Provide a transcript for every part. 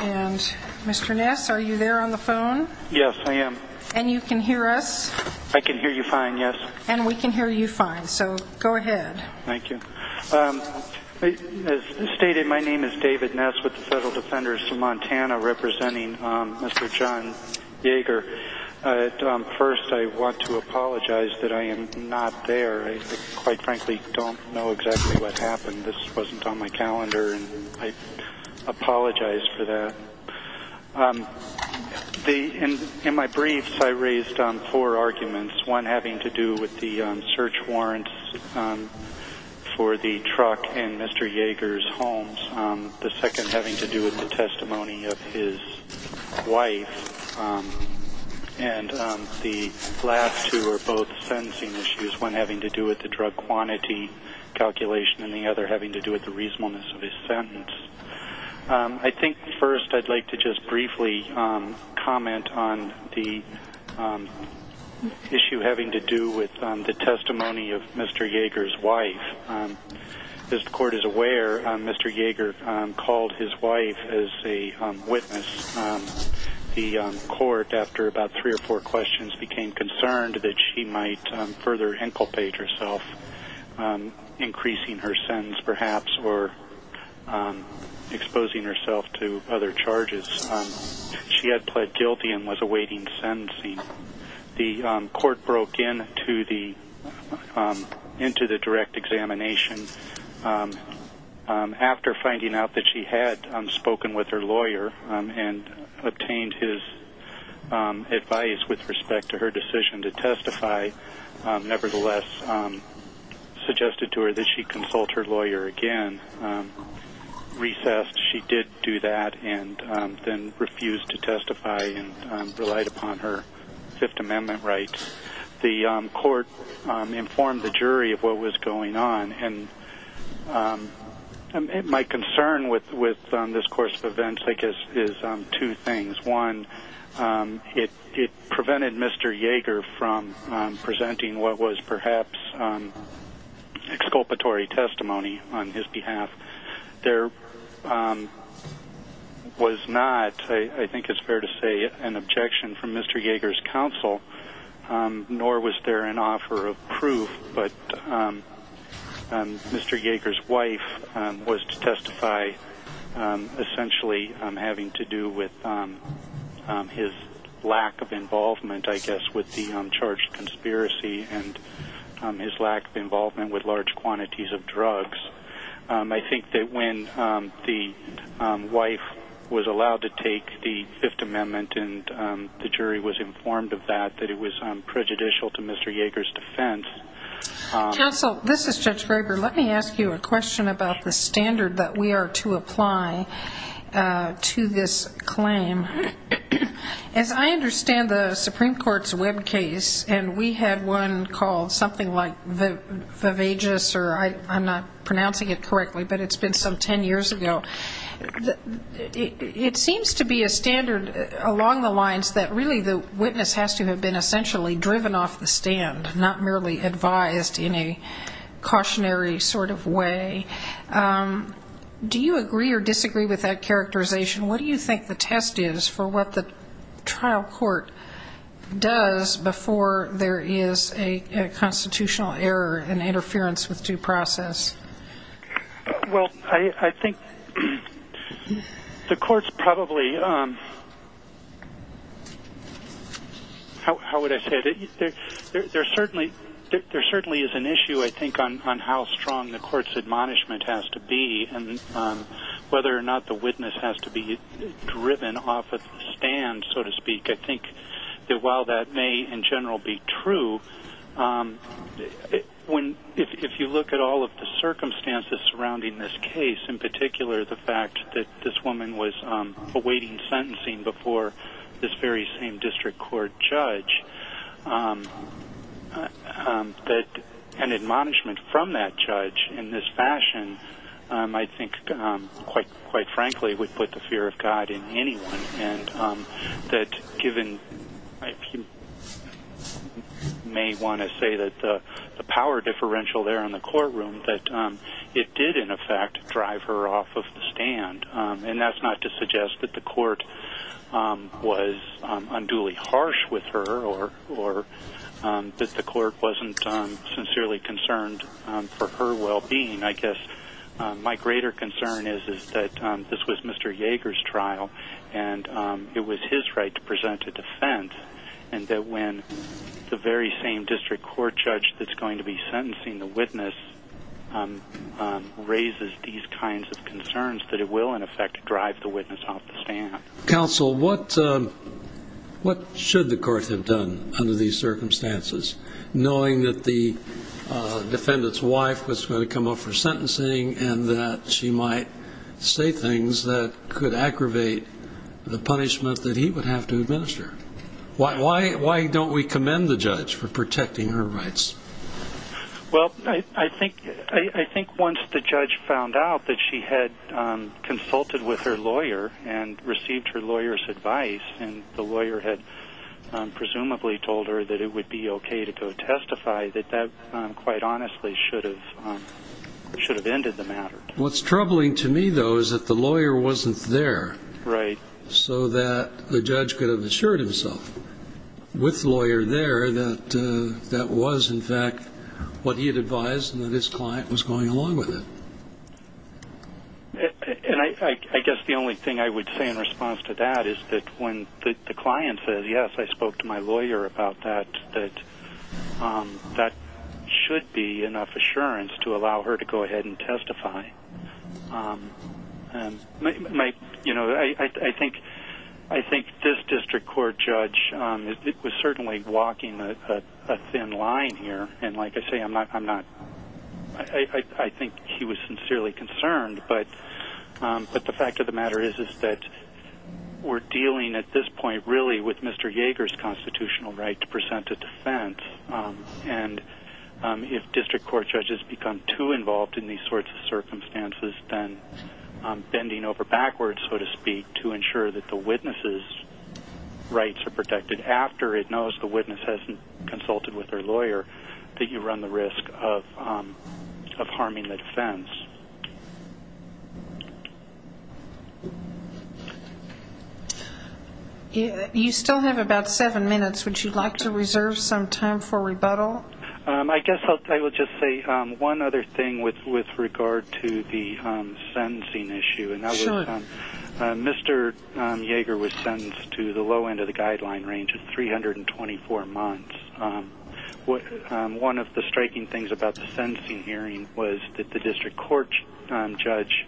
and Mr. Ness, are you there on the phone? Yes, I am. And you can hear us? I can hear you fine, yes. And we can hear you fine, so go ahead. Thank you. As stated, my name is David I want to apologize that I am not there. I quite frankly don't know exactly what happened. This wasn't on my calendar, and I apologize for that. In my briefs, I raised four arguments, one having to do with the search warrants for the truck in Mr. Jaeger's home, the second the last two are both sentencing issues, one having to do with the drug quantity calculation, and the other having to do with the reasonableness of his sentence. I think first I'd like to just briefly comment on the issue having to do with the testimony of Mr. Jaeger's wife. As the court is aware, Mr. Jaeger called his wife as a witness. The court, after about three or four questions, became concerned that she might further inculpate herself, increasing her sentence perhaps, or exposing herself to other charges. She had pled guilty and was awaiting sentencing. The court broke into the direct examination. After finding out that she had spoken with her lawyer and obtained his advice with respect to her decision to testify, nevertheless suggested to her that she consult her lawyer again. Recessed, she did do that and then refused to testify and relied upon her Fifth Amendment rights. The court informed the jury of what was going on. My concern with this course of events is two things. One, it prevented Mr. Jaeger from presenting what was perhaps exculpatory testimony on his behalf. There was not, I think it's fair to say, an objection from the jury, nor was there an offer of proof, but Mr. Jaeger's wife was to testify essentially having to do with his lack of involvement, I guess, with the charged conspiracy and his lack of involvement with large quantities of drugs. I think that when the wife was allowed to take the Fifth Amendment and the jury was informed of that, that it was prejudicial to Mr. Jaeger's defense. Judge Graber, let me ask you a question about the standard that we are to apply to this claim. As I understand the Supreme Court's web case, and we had one called something like Viveges, or I'm not pronouncing it correctly, but it's been some ten years ago, it seems to be a standard along the lines that really the witness has to have been essentially driven off the stand, not merely advised in a cautionary sort of way. Do you agree or disagree with that characterization? What do you think the test is for what the trial court does before there is a constitutional error, an interference with due process? Well, I think the court's probably, how would I say it, there certainly is an issue, I think, on how strong the court's admonishment has to be and whether or not the witness has to be driven off the stand, so to speak. I think that while that may in general be true, if you look at all of the circumstances surrounding this case, in particular the fact that this woman was awaiting sentencing before this very same district court judge, that an admonishment from that judge in this fashion, I think quite frankly would put the fear of God in anyone, and that given, you may want to say that the power differential there in the courtroom, that it did in effect drive her off of the stand, and that's not to suggest that the court was unduly harsh with her or that the court wasn't sincerely concerned for her well-being. I guess my greater concern is that this was Mr. Yeager's trial, and it was his right to present a defense, and that when the very same district court judge that's going to be sentencing the witness raises these kinds of concerns, that it will in effect drive the witness off the stand. Counsel, what should the court have done under these circumstances, knowing that the defendant's wife was going to come up for sentencing and that she might say things that could aggravate the punishment that he would have to administer? Why don't we commend the judge for protecting her rights? Well, I think once the judge found out that she had consulted with her lawyer and received her lawyer's advice, and the lawyer had presumably told her that it would be okay to go testify, that that quite honestly should have ended the matter. What's troubling to me, though, is that the lawyer wasn't there so that the judge could have assured himself, with the lawyer there, that that was in fact what he had advised and that his client was going along with it. And I guess the only thing I would say in response to that is that when the client says, yes, I spoke to my lawyer about that, that that should be enough assurance to allow her to go ahead and testify. You know, I think this district court judge was certainly walking a thin line here. And like I say, I think he was sincerely concerned. But the fact of the matter is that we're dealing at this point really with Mr. Yager's constitutional right to present a defense. And if district court judges become too involved in these sorts of circumstances, then bending over backwards, so to speak, to ensure that the witness's rights are protected after it knows the witness hasn't consulted with their lawyer, that you run the risk of harming the defense. You still have about seven minutes. Would you like to reserve some time for rebuttal? I guess I will just say one other thing with regard to the sentencing issue. Sure. Mr. Yager was sentenced to the low end of the guideline range of 324 months. One of the striking things about the sentencing hearing was that the district court judge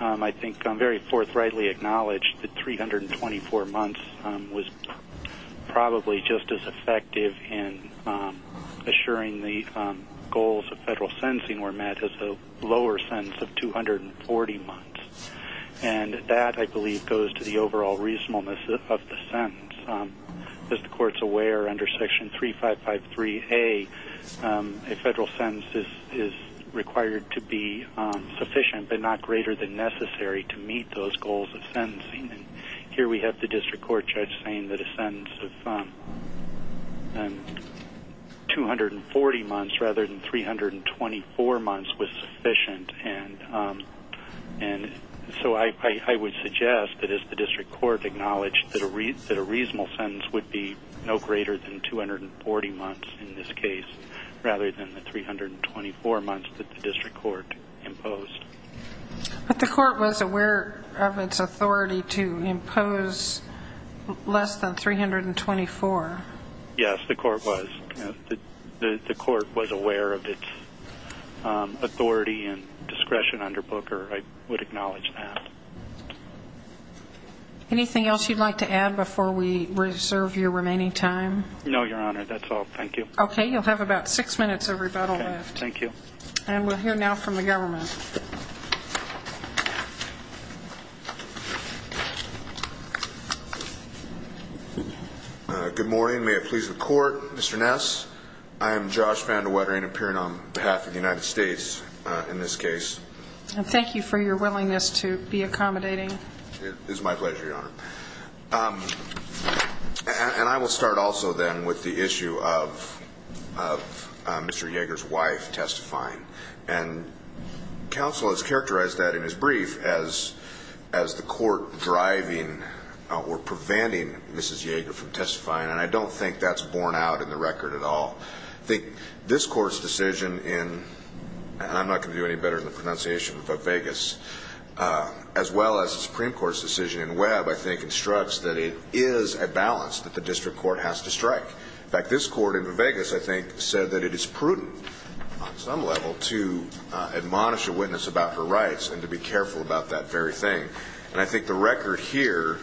I think very forthrightly acknowledged that 324 months was probably just as effective in assuring the goals of federal sentencing were met as a lower sentence of 240 months. And that, I believe, goes to the overall reasonableness of the sentence. As the court's aware, under Section 3553A, a federal sentence is required to be sufficient, but not greater than necessary to meet those goals of sentencing. Here we have the district court judge saying that a sentence of 240 months rather than 324 months was sufficient. So I would suggest that as the district court acknowledged that a reasonable sentence would be no greater than 240 months in this case rather than the 324 months that the district court imposed. But the court was aware of its authority to impose less than 324. Yes, the court was. The court was aware of its authority and discretion under Booker. I would acknowledge that. Anything else you'd like to add before we reserve your remaining time? No, Your Honor. That's all. Thank you. Okay. You'll have about six minutes of rebuttal left. Okay. Thank you. And we'll hear now from the government. Good morning. May it please the Court. Mr. Ness, I am Josh Van De Wettering, appearing on behalf of the United States in this case. And thank you for your willingness to be accommodating. It is my pleasure, Your Honor. And I will start also then with the issue of Mr. Yeager's wife testifying. And counsel has characterized that in his brief as the court driving or preventing Mrs. Yeager from testifying. And I don't think that's borne out in the record at all. I think this Court's decision in, and I'm not going to do any better in the pronunciation of Vegas, as well as the Supreme Court's decision in Webb, I think, instructs that it is a balance that the district court has to strike. In fact, this Court in Vegas, I think, said that it is prudent on some level to admonish a witness about her rights and to be careful about that very thing. And I think the record here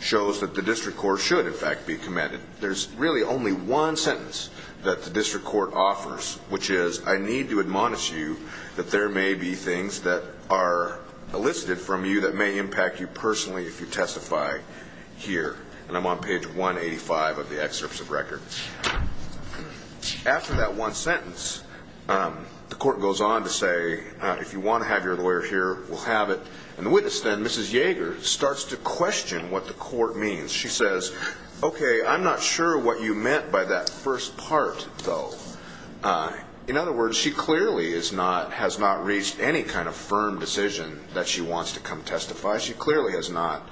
shows that the district court should, in fact, be commended. There's really only one sentence that the district court offers, which is, I need to admonish you that there may be things that are elicited from you that may impact you personally if you testify here. And I'm on page 185 of the excerpts of record. After that one sentence, the court goes on to say, if you want to have your lawyer here, we'll have it. And the witness then, Mrs. Yeager, starts to question what the court means. She says, okay, I'm not sure what you meant by that first part, though. In other words, she clearly has not reached any kind of firm decision that she wants to come testify. She clearly has not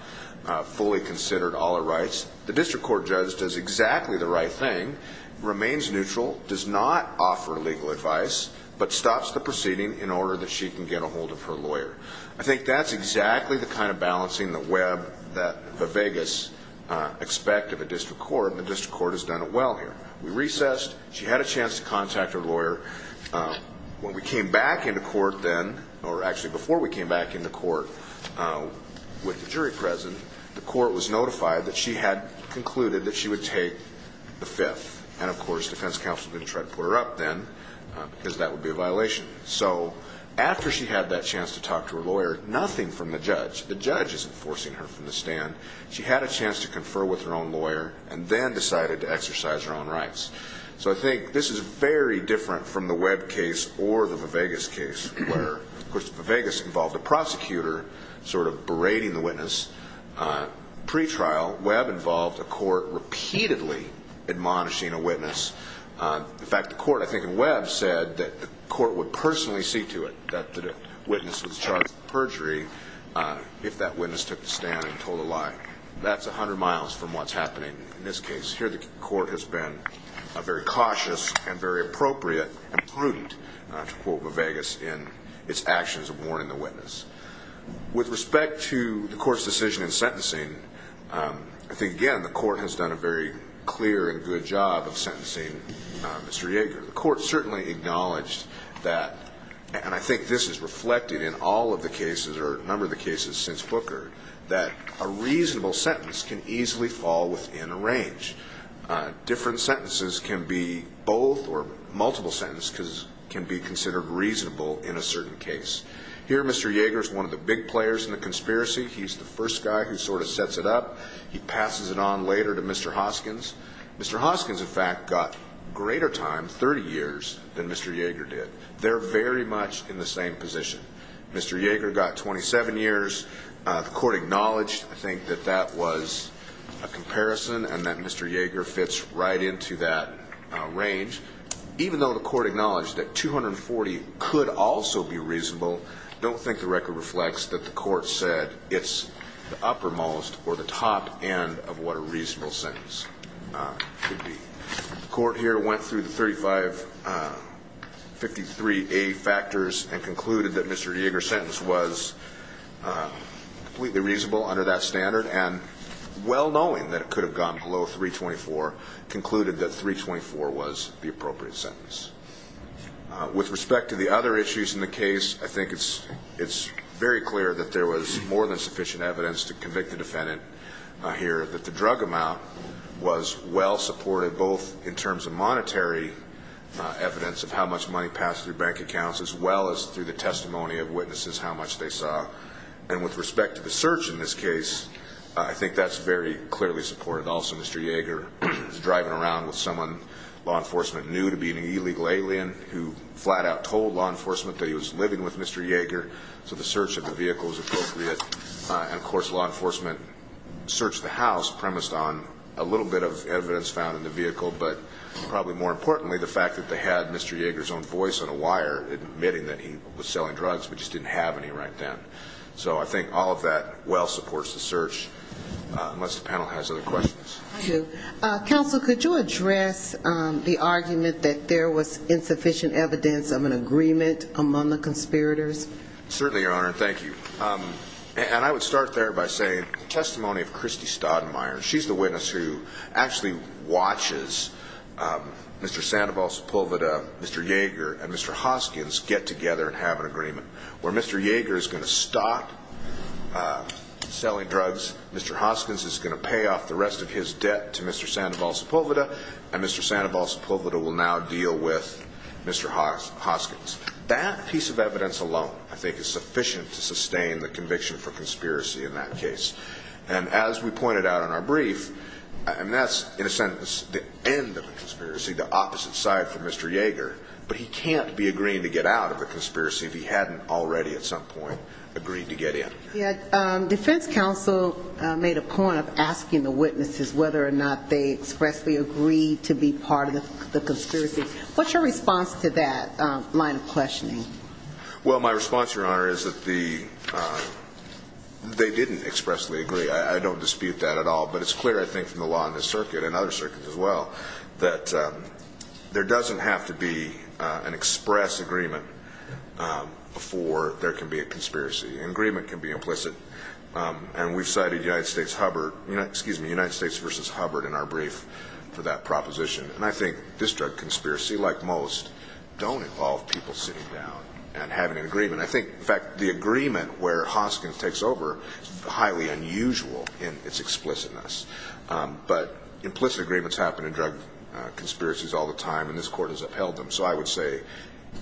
fully considered all her rights. The district court judge does exactly the right thing, remains neutral, does not offer legal advice, but stops the proceeding in order that she can get a hold of her lawyer. I think that's exactly the kind of balancing the web that the Vegas expect of a district court, and the district court has done it well here. We recessed. She had a chance to contact her lawyer. When we came back into court then, or actually before we came back into court with the jury present, the court was notified that she had concluded that she would take the fifth. And, of course, defense counsel didn't try to put her up then because that would be a violation. So after she had that chance to talk to her lawyer, nothing from the judge. The judge isn't forcing her from the stand. She had a chance to confer with her own lawyer and then decided to exercise her own rights. So I think this is very different from the Webb case or the Vegas case, where, of course, the Vegas involved a prosecutor sort of berating the witness. Pre-trial, Webb involved a court repeatedly admonishing a witness. In fact, the court, I think in Webb, said that the court would personally see to it that the witness was charged with perjury if that witness took the stand and told a lie. That's 100 miles from what's happening in this case. Here the court has been very cautious and very appropriate and prudent, to quote the Vegas, in its actions of warning the witness. With respect to the court's decision in sentencing, I think, again, the court has done a very clear and good job of sentencing Mr. Yeager. The court certainly acknowledged that, and I think this is reflected in all of the cases or a number of the cases since Booker, that a reasonable sentence can easily fall within a range. Different sentences can be both or multiple sentences can be considered reasonable in a certain case. Here Mr. Yeager is one of the big players in the conspiracy. He's the first guy who sort of sets it up. He passes it on later to Mr. Hoskins. Mr. Hoskins, in fact, got greater time, 30 years, than Mr. Yeager did. They're very much in the same position. Mr. Yeager got 27 years. The court acknowledged, I think, that that was a comparison and that Mr. Yeager fits right into that range. Even though the court acknowledged that 240 could also be reasonable, I don't think the record reflects that the court said it's the uppermost or the top end of what a reasonable sentence could be. The court here went through the 3553A factors and concluded that Mr. Yeager's sentence was completely reasonable under that standard and, well knowing that it could have gone below 324, concluded that 324 was the appropriate sentence. With respect to the other issues in the case, I think it's very clear that there was more than sufficient evidence to convict the defendant here, that the drug amount was well supported both in terms of monetary evidence of how much money passed through bank accounts as well as through the testimony of witnesses how much they saw. And with respect to the search in this case, I think that's very clearly supported also. Mr. Yeager was driving around with someone law enforcement knew to be an illegal alien who flat out told law enforcement that he was living with Mr. Yeager, so the search of the vehicle was appropriate. And, of course, law enforcement searched the house premised on a little bit of evidence found in the vehicle but probably more importantly the fact that they had Mr. Yeager's own voice on a wire admitting that he was selling drugs but just didn't have any right then. So I think all of that well supports the search unless the panel has other questions. Thank you. Counsel, could you address the argument that there was insufficient evidence of an agreement among the conspirators? Certainly, Your Honor, and thank you. And I would start there by saying the testimony of Christy Staudenmeier, she's the witness who actually watches Mr. Sandoval Sepulveda, Mr. Yeager, and Mr. Hoskins get together and have an agreement where Mr. Yeager is going to stop selling drugs, Mr. Hoskins is going to pay off the rest of his debt to Mr. Sandoval Sepulveda, and Mr. Sandoval Sepulveda will now deal with Mr. Hoskins. That piece of evidence alone I think is sufficient to sustain the conviction for conspiracy in that case. And as we pointed out in our brief, and that's in a sentence the end of a conspiracy, the opposite side for Mr. Yeager, but he can't be agreeing to get out of a conspiracy if he hadn't already at some point agreed to get in. Defense counsel made a point of asking the witnesses whether or not they expressly agreed to be part of the conspiracy. What's your response to that line of questioning? Well, my response, Your Honor, is that they didn't expressly agree. I don't dispute that at all. But it's clear, I think, from the law in this circuit and other circuits as well, that there doesn't have to be an express agreement for there can be a conspiracy. An agreement can be implicit. And we've cited United States versus Hubbard in our brief for that proposition. And I think this drug conspiracy, like most, don't involve people sitting down and having an agreement. I think, in fact, the agreement where Hoskins takes over is highly unusual in its explicitness. But implicit agreements happen in drug conspiracies all the time, and this Court has upheld them. So I would say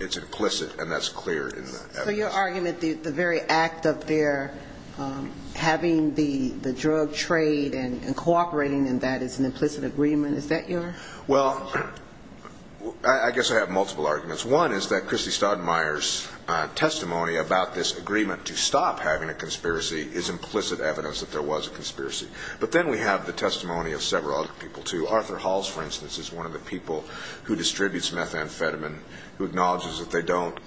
it's implicit, and that's clear in the evidence. So your argument, the very act of their having the drug trade and cooperating in that as an implicit agreement, is that your? Well, I guess I have multiple arguments. One is that Christy Staudenmeier's testimony about this agreement to stop having a conspiracy is implicit evidence that there was a conspiracy. But then we have the testimony of several other people, too. Arthur Halls, for instance, is one of the people who distributes methamphetamine, who acknowledges that they don't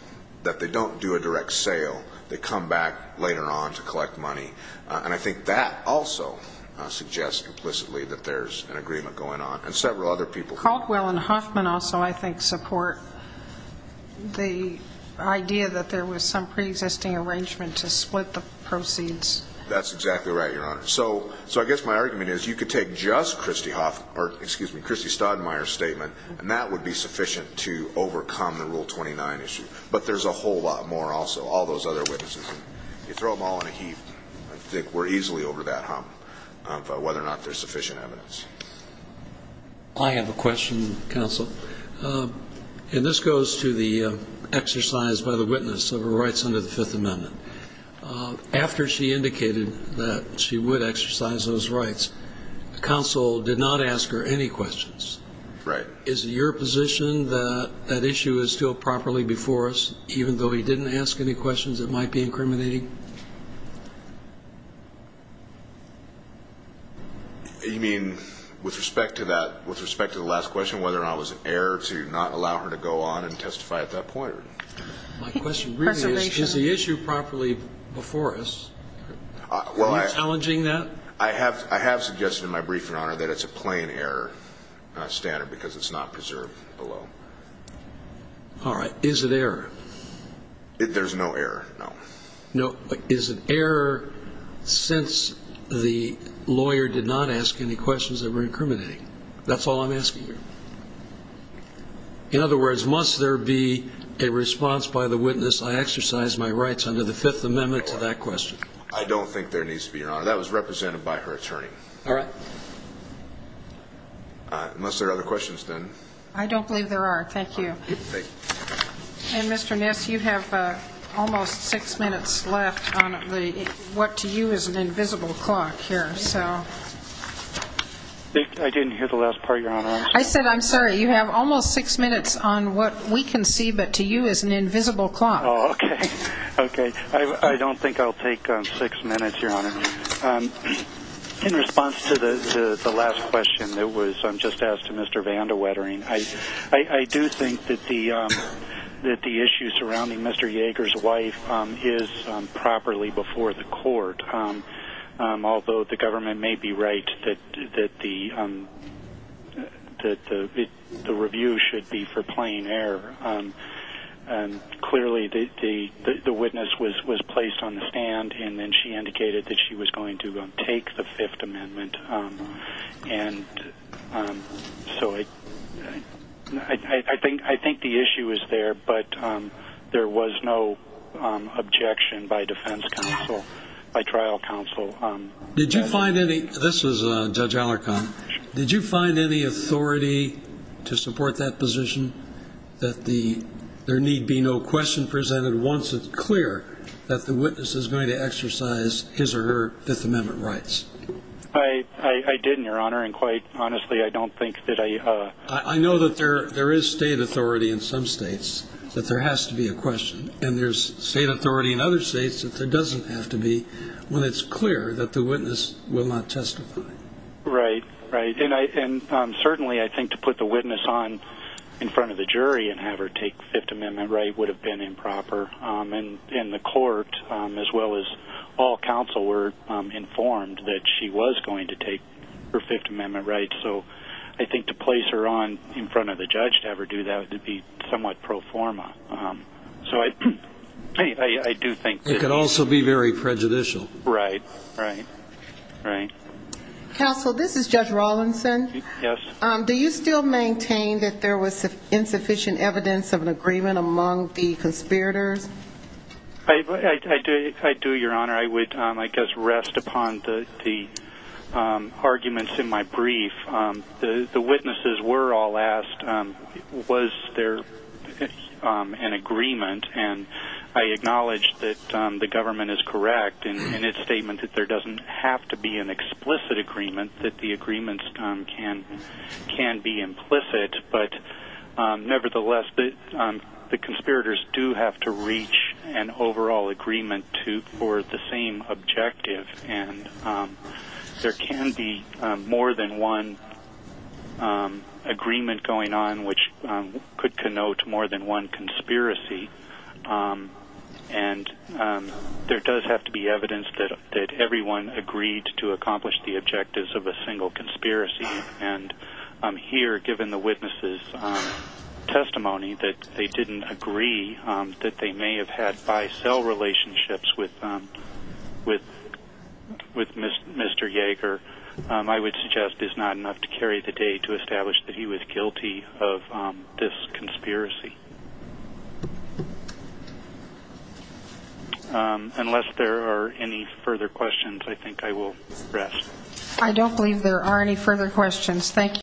do a direct sale. They come back later on to collect money. And I think that also suggests implicitly that there's an agreement going on. And several other people. Caldwell and Hoffman also, I think, support the idea that there was some preexisting arrangement to split the proceeds. That's exactly right, Your Honor. So I guess my argument is you could take just Christy Staudenmeier's statement, and that would be sufficient to overcome the Rule 29 issue. But there's a whole lot more also, all those other witnesses. You throw them all in a heap, I think we're easily over that hump of whether or not there's sufficient evidence. I have a question, counsel. And this goes to the exercise by the witness of her rights under the Fifth Amendment. After she indicated that she would exercise those rights, the counsel did not ask her any questions. Right. Is it your position that that issue is still properly before us? Even though he didn't ask any questions that might be incriminating? You mean with respect to that, with respect to the last question, whether or not it was an error to not allow her to go on and testify at that point? My question really is, is the issue properly before us? Are you challenging that? I have suggested in my briefing, Your Honor, that it's a plain error standard because it's not preserved below. All right. Is it error? There's no error, no. No. Is it error since the lawyer did not ask any questions that were incriminating? That's all I'm asking you. In other words, must there be a response by the witness, I exercise my rights under the Fifth Amendment to that question? I don't think there needs to be, Your Honor. That was represented by her attorney. All right. Unless there are other questions, then. I don't believe there are. Thank you. And, Mr. Ness, you have almost six minutes left on what to you is an invisible clock here. I didn't hear the last part, Your Honor. I said, I'm sorry, you have almost six minutes on what we can see but to you is an invisible clock. Oh, okay. Okay. I don't think I'll take six minutes, Your Honor. In response to the last question that was just asked to Mr. Vandewettering, I do think that the issue surrounding Mr. Yeager's wife is properly before the court, although the government may be right that the review should be for plain error. Clearly, the witness was placed on the stand, and then she indicated that she was going to take the Fifth Amendment. And so I think the issue is there, but there was no objection by defense counsel, by trial counsel. This is Judge Alarcon. Did you find any authority to support that position, that there need be no question presented once it's clear that the witness is going to exercise his or her Fifth Amendment rights? I didn't, Your Honor, and quite honestly, I don't think that I have. I know that there is state authority in some states that there has to be a question, and there's state authority in other states that there doesn't have to be when it's clear that the witness will not testify. Right, right. And certainly, I think to put the witness on in front of the jury and have her take Fifth Amendment right would have been improper. And the court, as well as all counsel, were informed that she was going to take her Fifth Amendment right. So I think to place her on in front of the judge to have her do that would be somewhat pro forma. So I do think that... It could also be very prejudicial. Right, right, right. Counsel, this is Judge Rawlinson. Yes. Do you still maintain that there was insufficient evidence of an agreement among the conspirators? I do, Your Honor. I would, I guess, rest upon the arguments in my brief. The witnesses were all asked, was there an agreement? And I acknowledge that the government is correct in its statement that there doesn't have to be an explicit agreement, that the agreements can be implicit. But nevertheless, the conspirators do have to reach an overall agreement for the same objective. And there can be more than one agreement going on which could connote more than one conspiracy. And there does have to be evidence that everyone agreed to accomplish the objectives of a single conspiracy. And here, given the witnesses' testimony that they didn't agree that they may have had buy-sell relationships with Mr. Yaeger, I would suggest is not enough to carry the day to establish that he was guilty of this conspiracy. Unless there are any further questions, I think I will rest. I don't believe there are any further questions. Thank you.